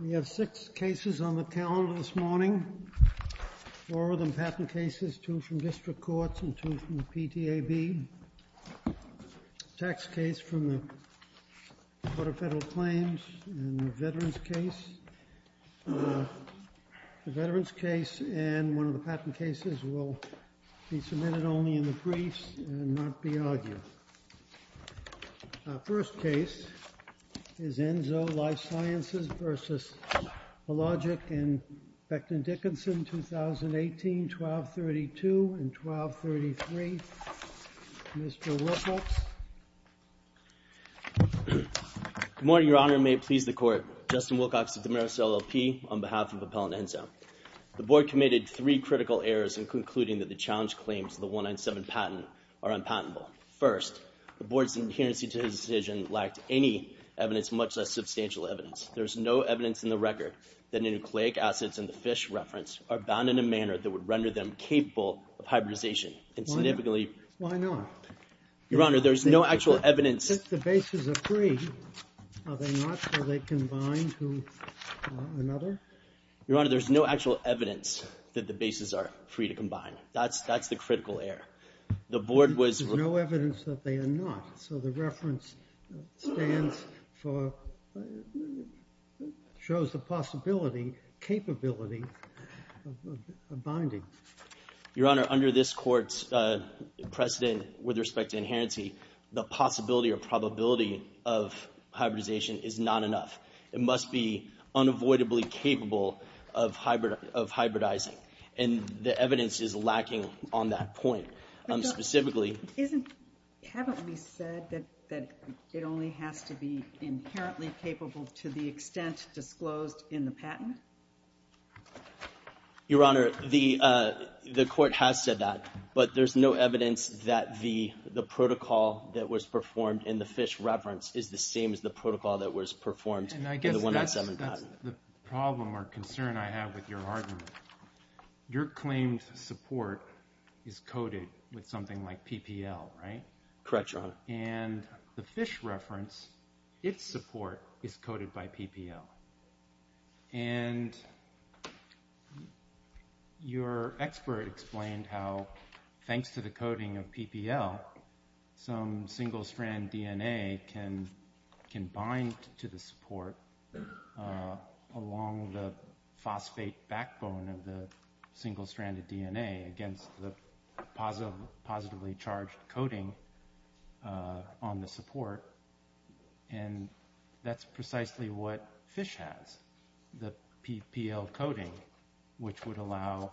We have six cases on the calendar this morning, four of them patent cases, two from district courts and two from the PTAB. A tax case from the Court of Federal Claims and a veterans case. The veterans case and one of the patent cases will be submitted only in the briefs and not be argued. Our first case is Enzo Life Sciences v. Elogic and Becton Dickinson, 2018, 1232 and 1233. Mr. Wilcox. Good morning, Your Honor. May it please the Court. Justin Wilcox of the Marist LLP on behalf of Appellant Enzo. The Board committed three critical errors in concluding that the challenge claims of the 197 patent are unpatentable. First, the Board's adherence to the decision lacked any evidence, much less substantial evidence. There is no evidence in the record that nucleic acids in the fish reference are bound in a manner that would render them capable of hybridization. Why not? Your Honor, there's no actual evidence. Since the bases are free, are they not? Are they combined to another? Your Honor, there's no actual evidence that the bases are free to combine. That's the critical error. There's no evidence that they are not. So the reference shows the possibility, capability of binding. Your Honor, under this Court's precedent with respect to inherency, the possibility or probability of hybridization is not enough. It must be unavoidably capable of hybridizing. And the evidence is lacking on that point. Specifically. Isn't, haven't we said that it only has to be inherently capable to the extent disclosed in the patent? Your Honor, the Court has said that. But there's no evidence that the protocol that was performed in the fish reference is the same as the protocol that was performed in the 197 patent. And I guess that's the problem or concern I have with your argument. Your claimed support is coded with something like PPL, right? Correct, Your Honor. And the fish reference, its support is coded by PPL. And your expert explained how, thanks to the coding of PPL, some single-strand DNA can bind to the support along the phosphate backbone of the single-stranded DNA against the positively charged coding on the support. And that's precisely what fish has. The PPL coding, which would allow,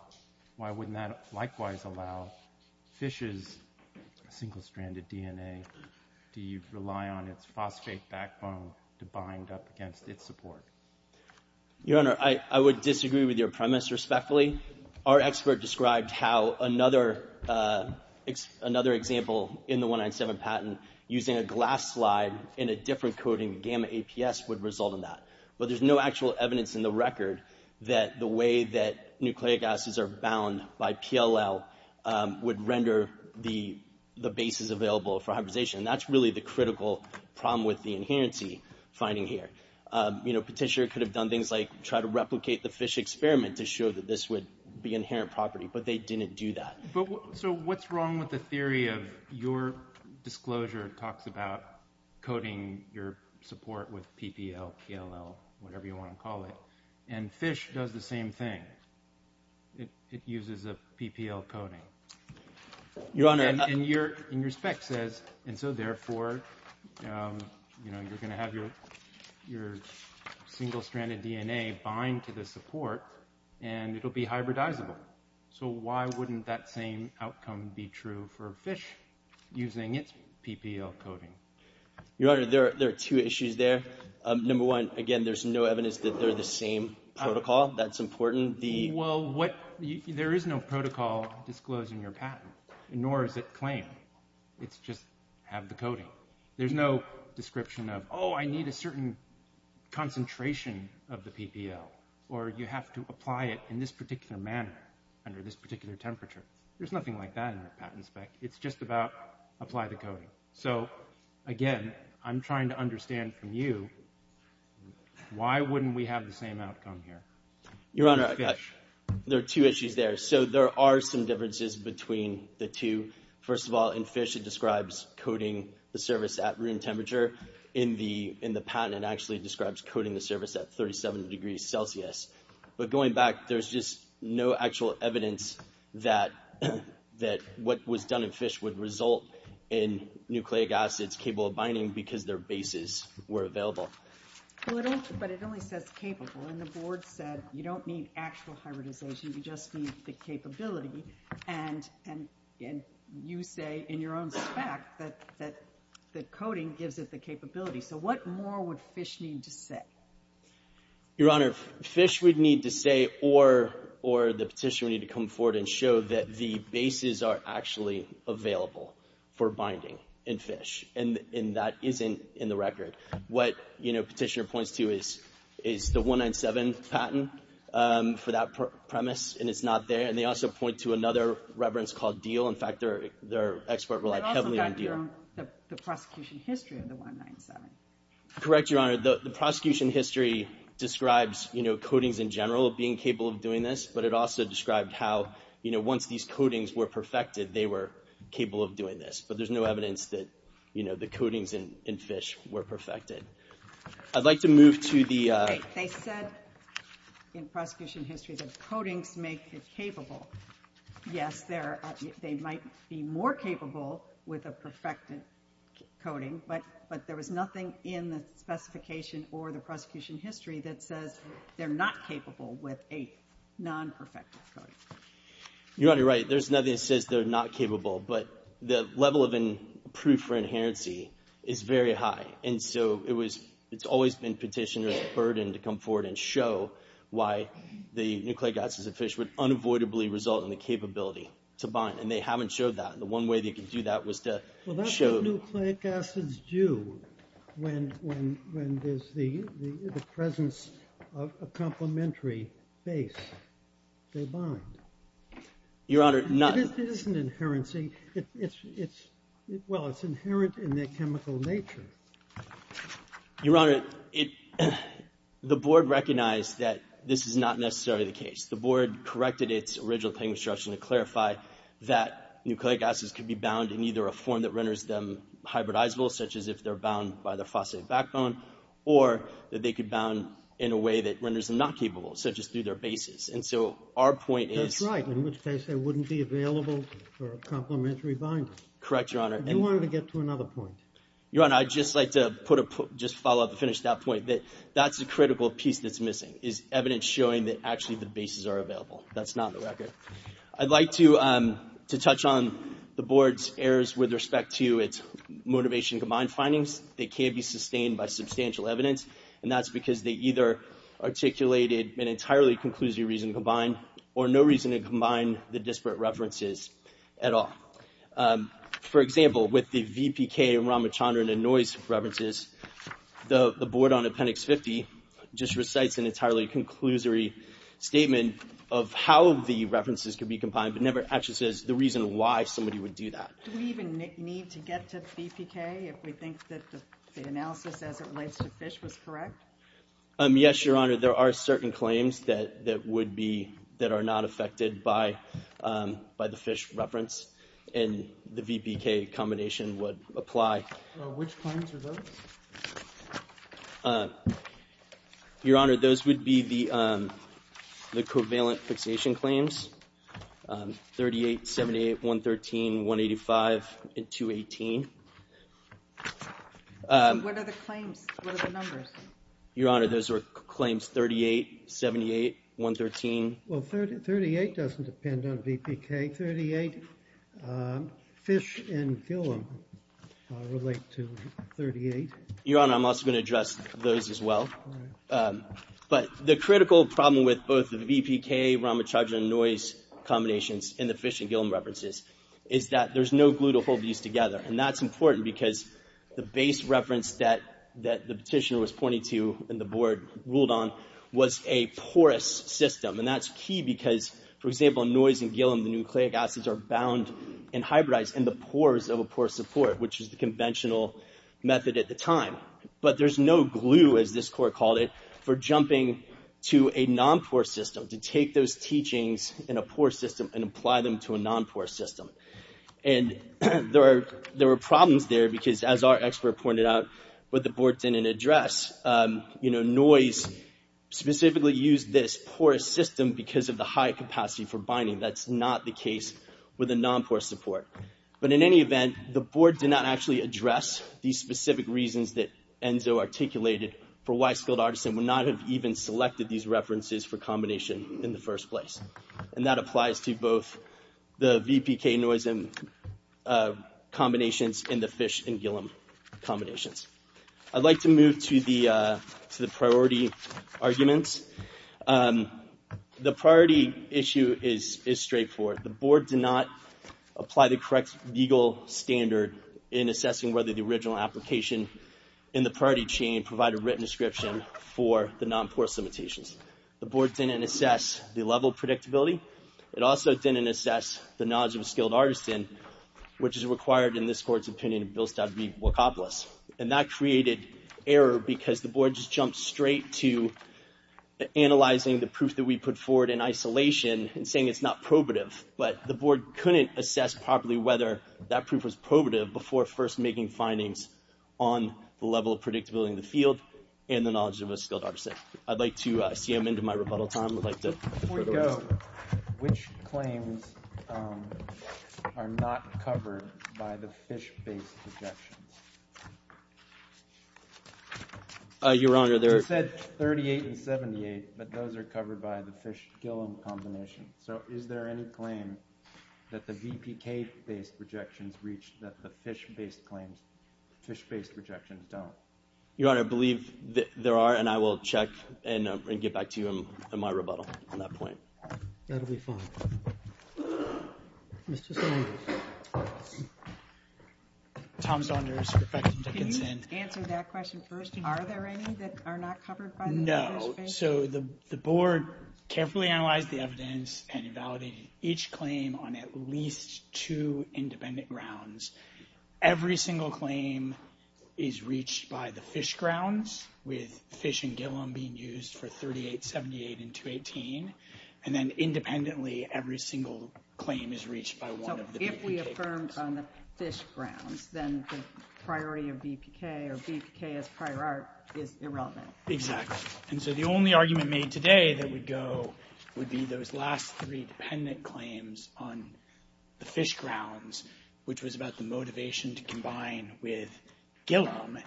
why wouldn't that likewise allow fish's single-stranded DNA to rely on its phosphate backbone to bind up against its support? Your Honor, I would disagree with your premise respectfully. Our expert described how another example in the 197 patent using a glass slide in a different coding gamma APS would result in that. But there's no actual evidence in the record that the way that nucleic acids are bound by PLL would render the bases available for hybridization. And that's really the critical problem with the inherency finding here. Petitioner could have done things like try to replicate the fish experiment to show that this would be inherent property, but they didn't do that. So what's wrong with the theory of your disclosure talks about coding your support with PPL, PLL, whatever you want to call it, and fish does the same thing? It uses a PPL coding. Your Honor. And your spec says, and so therefore, you're going to have your single-stranded DNA bind to the support, and it'll be hybridizable. So why wouldn't that same outcome be true for fish using its PPL coding? Your Honor, there are two issues there. Number one, again, there's no evidence that they're the same protocol. That's important. Well, there is no protocol disclosed in your patent, nor is it claimed. It's just have the coding. There's no description of, oh, I need a certain concentration of the PPL, or you have to apply it in this particular manner under this particular temperature. There's nothing like that in your patent spec. It's just about apply the coding. So, again, I'm trying to understand from you, why wouldn't we have the same outcome here? Your Honor, there are two issues there. So there are some differences between the two. First of all, in fish, it describes coding the service at room temperature. In the patent, it actually describes coding the service at 37 degrees Celsius. But going back, there's just no actual evidence that what was done in fish would result in nucleic acids capable of binding because their bases were available. But it only says capable. And the board said you don't need actual hybridization. You just need the capability. And you say in your own spec that coding gives it the capability. So what more would fish need to say? Your Honor, fish would need to say or the petition would need to come forward and show that the bases are actually available for binding in fish. And that isn't in the record. What, you know, Petitioner points to is the 197 patent for that premise. And it's not there. And they also point to another reverence called deal. In fact, their expert relied heavily on deal. The prosecution history of the 197. Correct, Your Honor. The prosecution history describes, you know, codings in general being capable of doing this. But it also described how, you know, once these codings were perfected, they were capable of doing this. But there's no evidence that, you know, the codings in fish were perfected. I'd like to move to the. They said in prosecution history that codings make it capable. Yes, they might be more capable with a perfected coding. But there was nothing in the specification or the prosecution history that says they're not capable with a non-perfected coding. You're already right. There's nothing that says they're not capable. But the level of proof for inherency is very high. And so it's always been Petitioner's burden to come forward and show why the nucleic acids of fish would unavoidably result in the capability to bind. And they haven't showed that. The one way they could do that was to show. Well, that's what nucleic acids do when there's the presence of a complementary base. They bind. Your Honor. It isn't inherency. It's, well, it's inherent in their chemical nature. Your Honor, the board recognized that this is not necessarily the case. The board corrected its original claim instruction to clarify that nucleic acids could be bound in either a form that renders them hybridizable, such as if they're bound by the phosphate backbone, or that they could bound in a way that renders them not capable, such as through their bases. And so our point is. That's right, in which case they wouldn't be available for a complementary binder. Correct, Your Honor. If you wanted to get to another point. Your Honor, I'd just like to put a, just follow up to finish that point, that that's a critical piece that's missing, is evidence showing that actually the bases are available. That's not the record. I'd like to touch on the board's errors with respect to its motivation combined findings. They can't be sustained by substantial evidence. And that's because they either articulated an entirely conclusive reason combined, or no reason to combine the disparate references at all. For example, with the VPK and Ramachandran and Noyes references, the board on Appendix 50 just recites an entirely conclusory statement of how the references could be combined, but never actually says the reason why somebody would do that. Do we even need to get to the VPK if we think that the analysis as it relates to fish was correct? Yes, Your Honor. There are certain claims that would be, that are not affected by the fish reference. And the VPK combination would apply. Which claims are those? Your Honor, those would be the covalent fixation claims. 38, 78, 113, 185, and 218. What are the claims? What are the numbers? Your Honor, those are claims 38, 78, 113. Well, 38 doesn't depend on VPK. 38 fish and gill relate to 38. Your Honor, I'm also going to address those as well. But the critical problem with both the VPK, Ramachandran, and Noyes combinations in the fish and gill references is that there's no glue to hold these together. And that's important because the base reference that the petitioner was pointing to and the board ruled on was a porous system. And that's key because, for example, in Noyes and Gillum, the nucleic acids are bound and hybridized in the pores of a porous support, which is the conventional method at the time. But there's no glue, as this court called it, for jumping to a non-porous system to take those teachings in a porous system and apply them to a non-porous system. And there were problems there because, as our expert pointed out, what the board didn't address. Noyes specifically used this porous system because of the high capacity for binding. That's not the case with a non-porous support. But in any event, the board did not actually address these specific reasons that Enzo articulated for why Skilled Artisan would not have even selected these references for combination in the first place. And that applies to both the VPK, Noyes, and combinations in the fish and Gillum combinations. I'd like to move to the priority arguments. The priority issue is straightforward. The board did not apply the correct legal standard in assessing whether the original application in the priority chain provided a written description for the non-porous limitations. The board didn't assess the level of predictability. It also didn't assess the knowledge of a Skilled Artisan, which is required in this court's opinion of Bill Stout v. Walkopolis. And that created error because the board just jumped straight to analyzing the proof that we put forward in isolation and saying it's not probative. But the board couldn't assess properly whether that proof was probative before first making findings on the level of predictability in the field and the knowledge of a Skilled Artisan. I'd like to see him into my rebuttal time. Before you go, which claims are not covered by the fish-based projections? You're wrong. You said 38 and 78, but those are covered by the fish-Gillum combination. So is there any claim that the VPK-based projections reach that the fish-based projections don't? Your Honor, I believe there are, and I will check and get back to you in my rebuttal on that point. That will be fine. Mr. Stoner. Thank you. Tom Saunders, Professor Dickinson. Can you answer that question first? Are there any that are not covered by the fish-based? No. So the board carefully analyzed the evidence and validated each claim on at least two independent grounds. Every single claim is reached by the fish grounds, with fish and Gillum being used for 38, 78, and 218. And then independently, every single claim is reached by one of the VPK claims. So if we affirmed on the fish grounds, then the priority of VPK or VPK as prior art is irrelevant. Exactly. And so the only argument made today that would go would be those last three dependent claims on the fish grounds, which was about the motivation to combine with Gillum.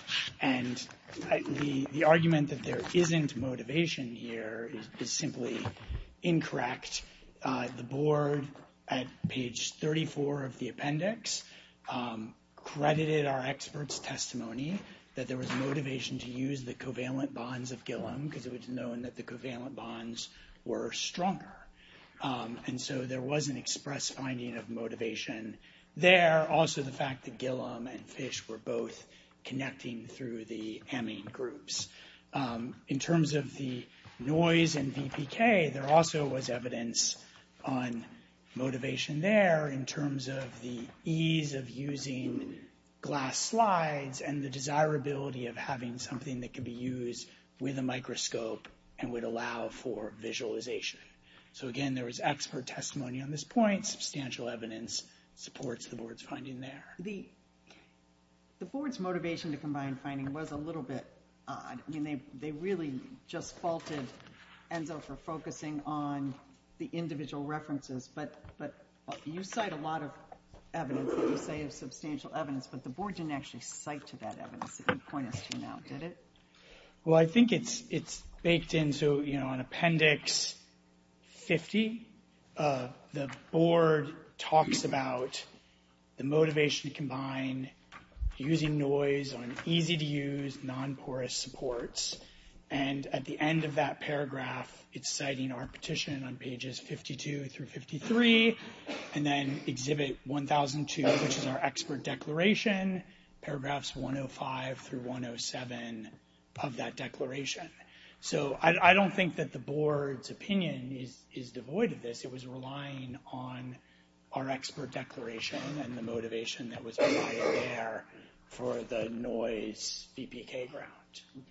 And the argument that there isn't motivation here is simply incorrect. The board, at page 34 of the appendix, credited our experts' testimony that there was motivation to use the covalent bonds of Gillum because it was known that the covalent bonds were stronger. And so there was an express finding of motivation there. Also, the fact that Gillum and fish were both connecting through the amine groups. In terms of the noise and VPK, there also was evidence on motivation there in terms of the ease of using glass slides and the desirability of having something that could be used with a microscope and would allow for visualization. So again, there was expert testimony on this point. Substantial evidence supports the board's finding there. The board's motivation to combine finding was a little bit odd. I mean, they really just faulted ENSO for focusing on the individual references, but you cite a lot of evidence that you say is substantial evidence, but the board didn't actually cite to that evidence that you pointed to now, did it? Well, I think it's baked into an appendix 50. The board talks about the motivation to combine using noise on easy-to-use, non-porous supports. And at the end of that paragraph, it's citing our petition on pages 52 through 53, and then exhibit 1002, which is our expert declaration, paragraphs 105 through 107 of that declaration. So I don't think that the board's opinion is devoid of this. It was relying on our expert declaration and the motivation that was provided there for the noise VPK ground.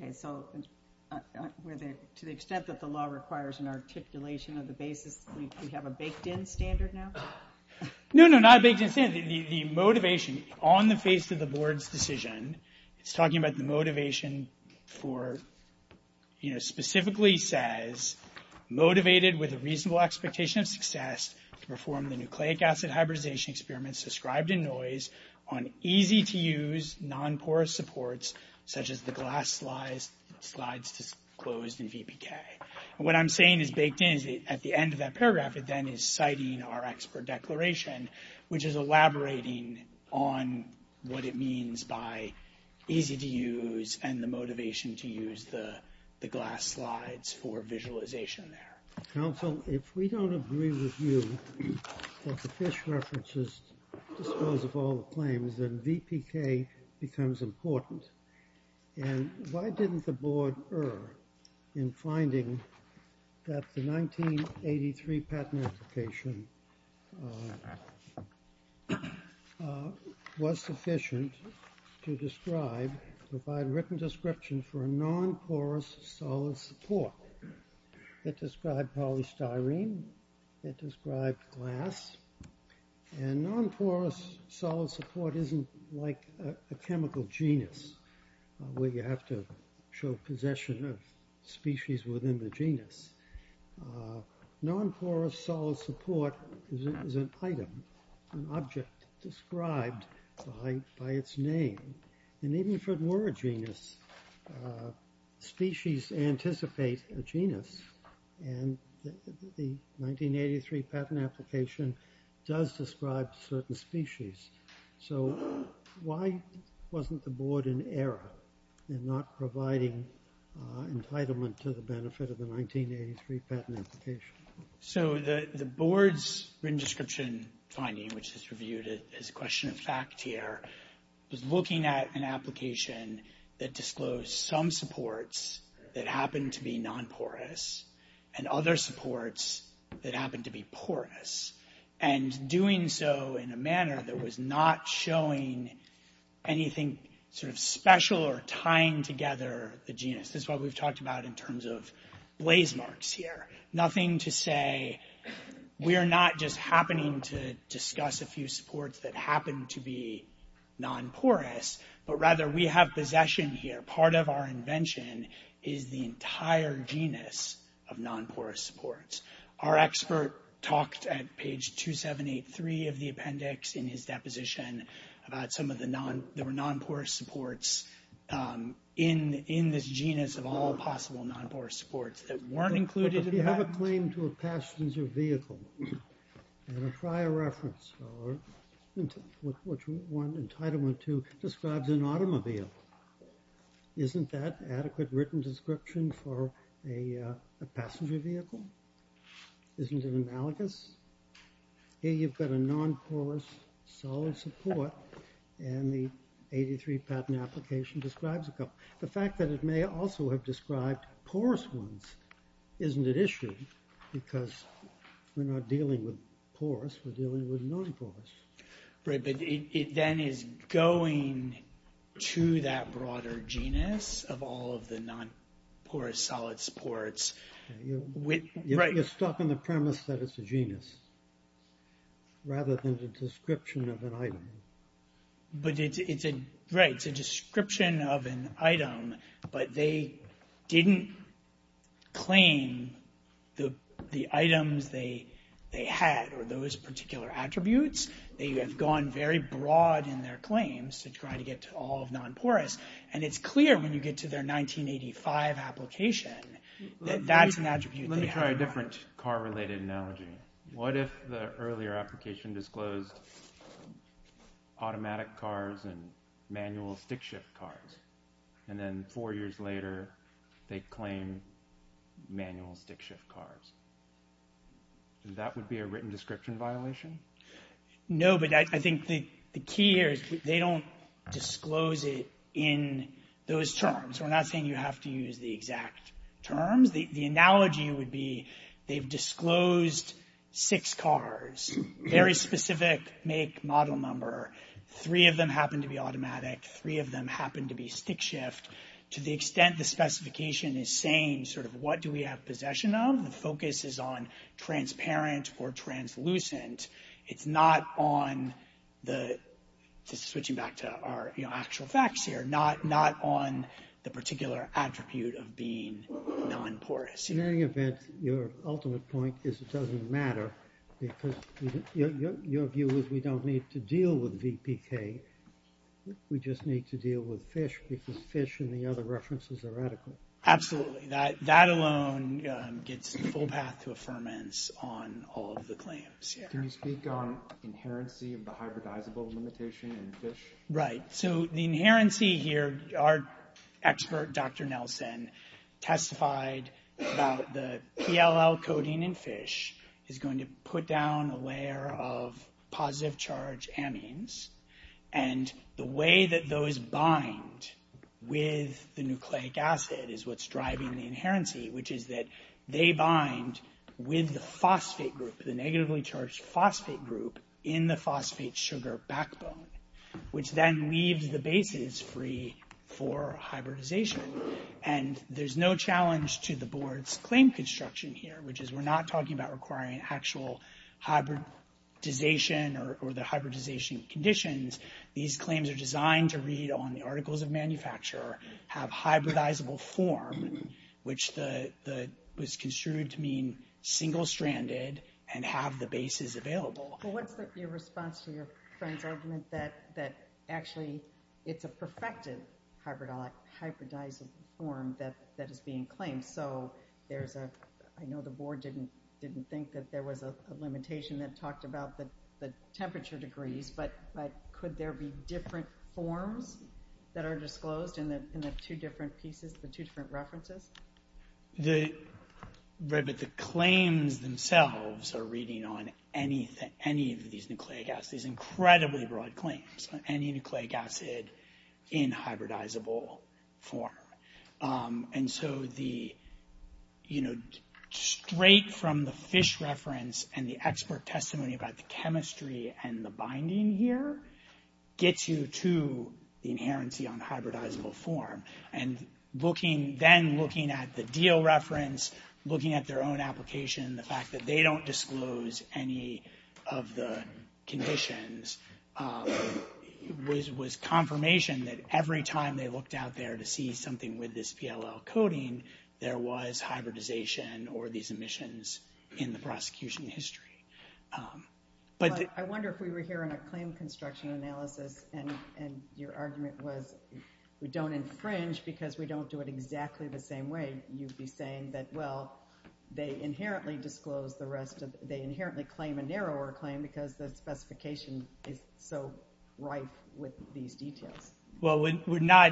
Okay, so to the extent that the law requires an articulation of the basis, we have a baked-in standard now? No, no, not a baked-in standard. The motivation on the face of the board's decision, it's talking about the motivation for, you know, specifically says, motivated with a reasonable expectation of success to perform the nucleic acid hybridization experiments described in noise on easy-to-use, non-porous supports, such as the glass slides disclosed in VPK. And what I'm saying is baked in is at the end of that paragraph, it then is citing our expert declaration, which is elaborating on what it means by easy-to-use and the motivation to use the glass slides for visualization there. Counsel, if we don't agree with you that the FISH references dispose of all the claims, then VPK becomes important. And why didn't the board err in finding that the 1983 patent application was sufficient to describe, provide written description for a non-porous solid support? It described polystyrene. It described glass. And non-porous solid support isn't like a chemical genus, where you have to show possession of species within the genus. Non-porous solid support is an item, an object described by its name. And even if it were a genus, species anticipate a genus. And the 1983 patent application does describe certain species. So why wasn't the board in error in not providing entitlement to the benefit of the 1983 patent application? So the board's written description finding, which is reviewed as a question of fact here, was looking at an application that disclosed some supports that happened to be non-porous and other supports that happened to be porous. And doing so in a manner that was not showing anything sort of special or tying together the genus. This is what we've talked about in terms of blaze marks here. Nothing to say we're not just happening to discuss a few supports that happen to be non-porous, but rather we have possession here. Part of our invention is the entire genus of non-porous supports. Our expert talked at page 2783 of the appendix in his deposition about some of the non-porous supports in this genus of all possible non-porous supports that weren't included in the patent. But if you have a claim to a passenger vehicle, and a prior reference or what you want entitlement to describes an automobile, isn't that adequate written description for a passenger vehicle? Isn't it analogous? Here you've got a non-porous solid support, and the 83 patent application describes a couple. The fact that it may also have described porous ones isn't an issue because we're not dealing with porous, we're dealing with non-porous. Right, but it then is going to that broader genus of all of the non-porous solid supports. You're stopping the premise that it's a genus rather than the description of an item. Right, it's a description of an item, but they didn't claim the items they had or those particular attributes. They have gone very broad in their claims to try to get to all of non-porous. And it's clear when you get to their 1985 application that that's an attribute they have. Let me try a different car-related analogy. What if the earlier application disclosed automatic cars and manual stick shift cars, and then four years later they claim manual stick shift cars? That would be a written description violation? No, but I think the key here is they don't disclose it in those terms. We're not saying you have to use the exact terms. The analogy would be they've disclosed six cars, very specific make, model, number. Three of them happen to be automatic, three of them happen to be stick shift. To the extent the specification is saying sort of what do we have possession of, the focus is on transparent or translucent. It's not on the, just switching back to our actual facts here, not on the particular attribute of being non-porous. In any event, your ultimate point is it doesn't matter, because your view is we don't need to deal with VPK. We just need to deal with FISH, because FISH and the other references are radical. Absolutely. That alone gets the full path to affirmance on all of the claims. Can you speak on inherency of the hybridizable limitation in FISH? Right. So the inherency here, our expert, Dr. Nelson, testified about the PLL coding in FISH is going to put down a layer of positive charge amines, and the way that those bind with the nucleic acid is what's driving the inherency, which is that they bind with the phosphate group, the negatively charged phosphate group in the phosphate sugar backbone, which then leaves the bases free for hybridization. And there's no challenge to the board's claim construction here, which is we're not talking about requiring actual hybridization or the hybridization conditions. These claims are designed to read on the articles of manufacture, have hybridizable form, which was construed to mean single-stranded and have the bases available. Well, what's your response to your friend's argument that actually it's a perfected hybridizable form that is being claimed? So I know the board didn't think that there was a limitation that talked about the temperature degrees, but could there be different forms that are disclosed in the two different pieces, the two different references? Right, but the claims themselves are reading on any of these nucleic acids, incredibly broad claims on any nucleic acid in hybridizable form. And so the, you know, straight from the fish reference and the expert testimony about the chemistry and the binding here gets you to the inherency on hybridizable form. And then looking at the deal reference, looking at their own application, the fact that they don't disclose any of the conditions, was confirmation that every time they looked out there to see something with this PLL coding, there was hybridization or these emissions in the prosecution history. But I wonder if we were hearing a claim construction analysis and your argument was we don't infringe because we don't do it exactly the same way. You'd be saying that, well, they inherently disclose the rest of, they inherently claim a narrower claim because the specification is so rife with these details. Well, we're not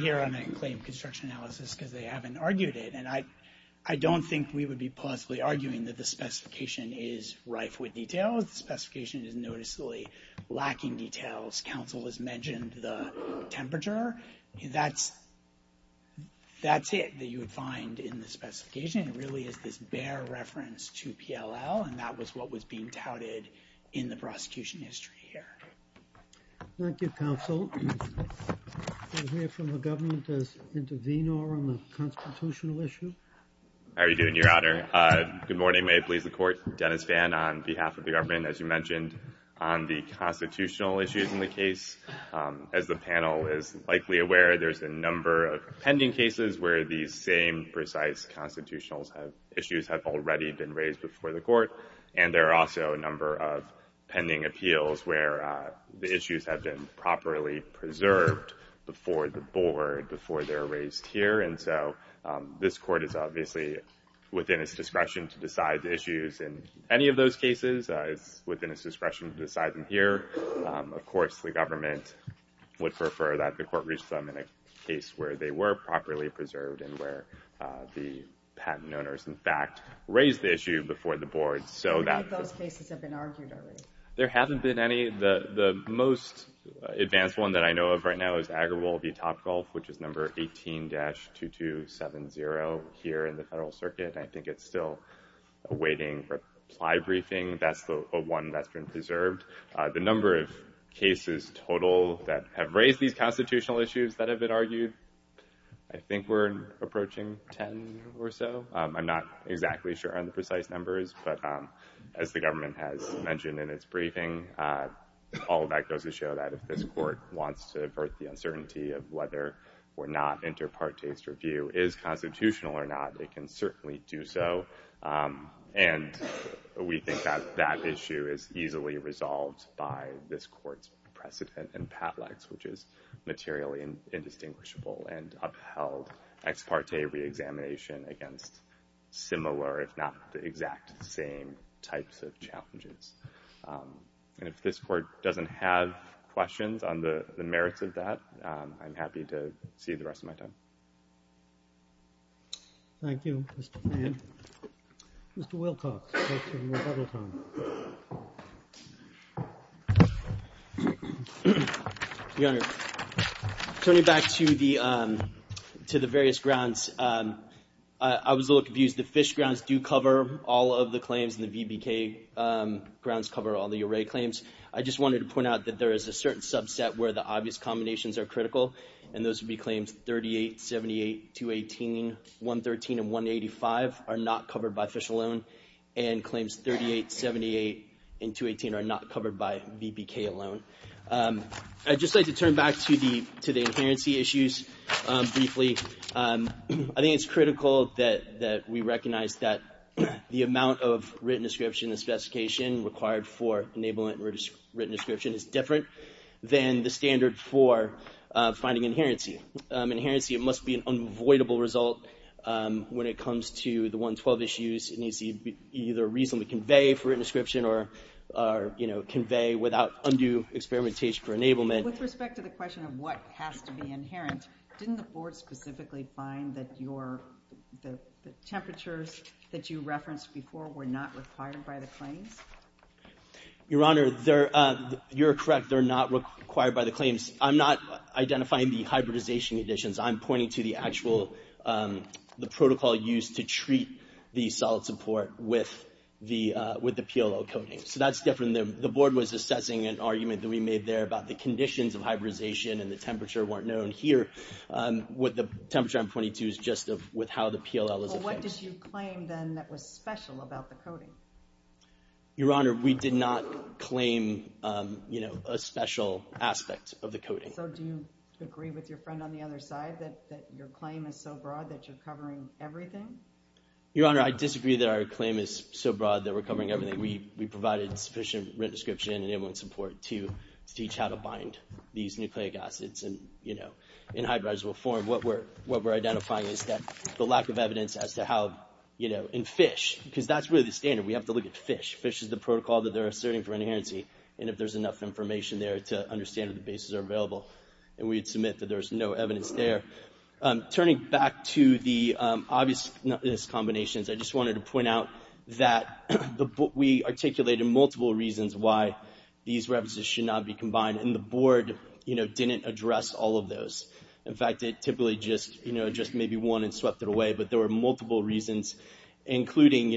here on a claim construction analysis because they haven't argued it. And I don't think we would be possibly arguing that the specification is rife with details. The specification is noticeably lacking details. Counsel has mentioned the temperature. That's it that you would find in the specification. It really is this bare reference to PLL and that was what was being touted in the prosecution history here. Thank you, Counsel. We'll hear from the government to intervene on the constitutional issue. How are you doing, Your Honor? Good morning. May it please the court. Dennis Fan on behalf of the government. As you mentioned, on the constitutional issues in the case, as the panel is likely aware, there's a number of pending cases where these same precise constitutional issues have already been raised before the court. And there are also a number of pending appeals where the issues have been properly preserved before the board, before they're raised here. And so this court is obviously within its discretion to decide the issues in any of those cases. It's within its discretion to decide them here. Of course, the government would prefer that the court reach them in a case where they were properly preserved and where the patent owners, in fact, raised the issue before the board. How many of those cases have been argued already? There haven't been any. The most advanced one that I know of right now is Agarwal v. Topgolf, which is number 18-2270 here in the federal circuit. I think it's still awaiting reply briefing. That's the one that's been preserved. The number of cases total that have raised these constitutional issues that have been argued, I think we're approaching 10 or so. I'm not exactly sure on the precise numbers, but as the government has mentioned in its briefing, all of that goes to show that if this court wants to avert the uncertainty of whether or not Interparte's review is constitutional or not, it can certainly do so. And we think that that issue is easily resolved by this court's precedent in PATLEX, which is materially indistinguishable and upheld ex parte reexamination against similar, if not the exact same, types of challenges. And if this court doesn't have questions on the merits of that, I'm happy to see you the rest of my time. Thank you, Mr. Fann. Mr. Wilcox. Let's take some more public time. Your Honor, turning back to the various grounds, I was a little confused. The Fish grounds do cover all of the claims, and the VBK grounds cover all the array claims. I just wanted to point out that there is a certain subset where the obvious combinations are critical, and those would be claims 38, 78, 218, 113, and 185 are not covered by Fish alone, and claims 38, 78, and 218 are not covered by VBK alone. I'd just like to turn back to the inherency issues briefly. I think it's critical that we recognize that the amount of written description and specification required for enablement and written description is different than the standard for finding inherency. Inherency must be an unavoidable result when it comes to the 112 issues. It needs to either reasonably convey for written description or convey without undue experimentation for enablement. With respect to the question of what has to be inherent, didn't the Board specifically find that the temperatures that you referenced before were not required by the claims? Your Honor, you're correct. They're not required by the claims. I'm not identifying the hybridization additions. I'm pointing to the actual protocol used to treat the solid support with the PLL coating. So that's different. The Board was assessing an argument that we made there about the conditions of hybridization and the temperature weren't known. Here, what the temperature I'm pointing to is just with how the PLL is addressed. Well, what did you claim then that was special about the coating? Your Honor, we did not claim a special aspect of the coating. So do you agree with your friend on the other side that your claim is so broad that you're covering everything? Your Honor, I disagree that our claim is so broad that we're covering everything. We provided sufficient written description and enabling support to teach how to bind these nucleic acids in hybridizable form. What we're identifying is that the lack of evidence as to how in fish, because that's really the standard. We have to look at fish. Fish is the protocol that they're asserting for inherency, and if there's enough information there to understand that the bases are available. And we'd submit that there's no evidence there. Turning back to the obvious combinations, I just wanted to point out that we articulated multiple reasons why these references should not be combined, and the Board didn't address all of those. In fact, it typically just maybe one and swept it away, but there were multiple reasons, including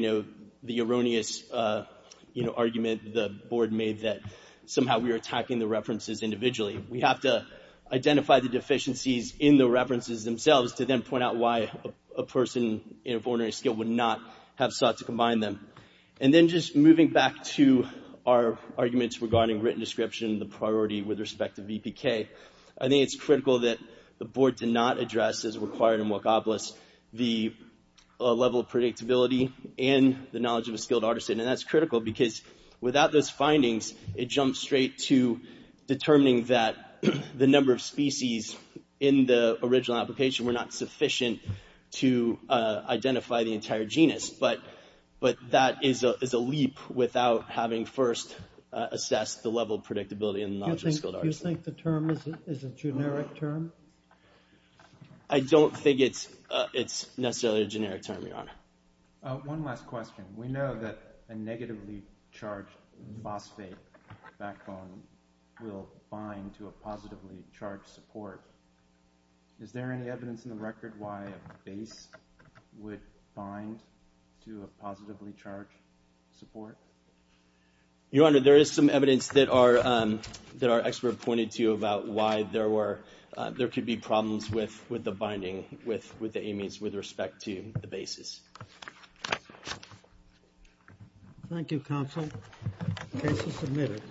the erroneous argument the Board made that somehow we were attacking the references individually. We have to identify the deficiencies in the references themselves to then point out why a person of ordinary skill would not have sought to combine them. And then just moving back to our arguments regarding written description, the priority with respect to VPK, I think it's critical that the Board did not address, as required in Walkopolis, the level of predictability and the knowledge of a skilled artisan, and that's critical because without those findings, it jumps straight to determining that the number of species in the original application were not sufficient to identify the entire genus. But that is a leap without having first assessed the level of predictability and the knowledge of a skilled artisan. Do you think the term is a generic term? I don't think it's necessarily a generic term, Your Honor. One last question. We know that a negatively charged phosphate backbone will bind to a positively charged support. Is there any evidence in the record why a base would bind to a positively charged support? Your Honor, there is some evidence that our expert pointed to about why there could be problems with the binding with the amines with respect to the bases. Thank you, Counsel. The case is submitted.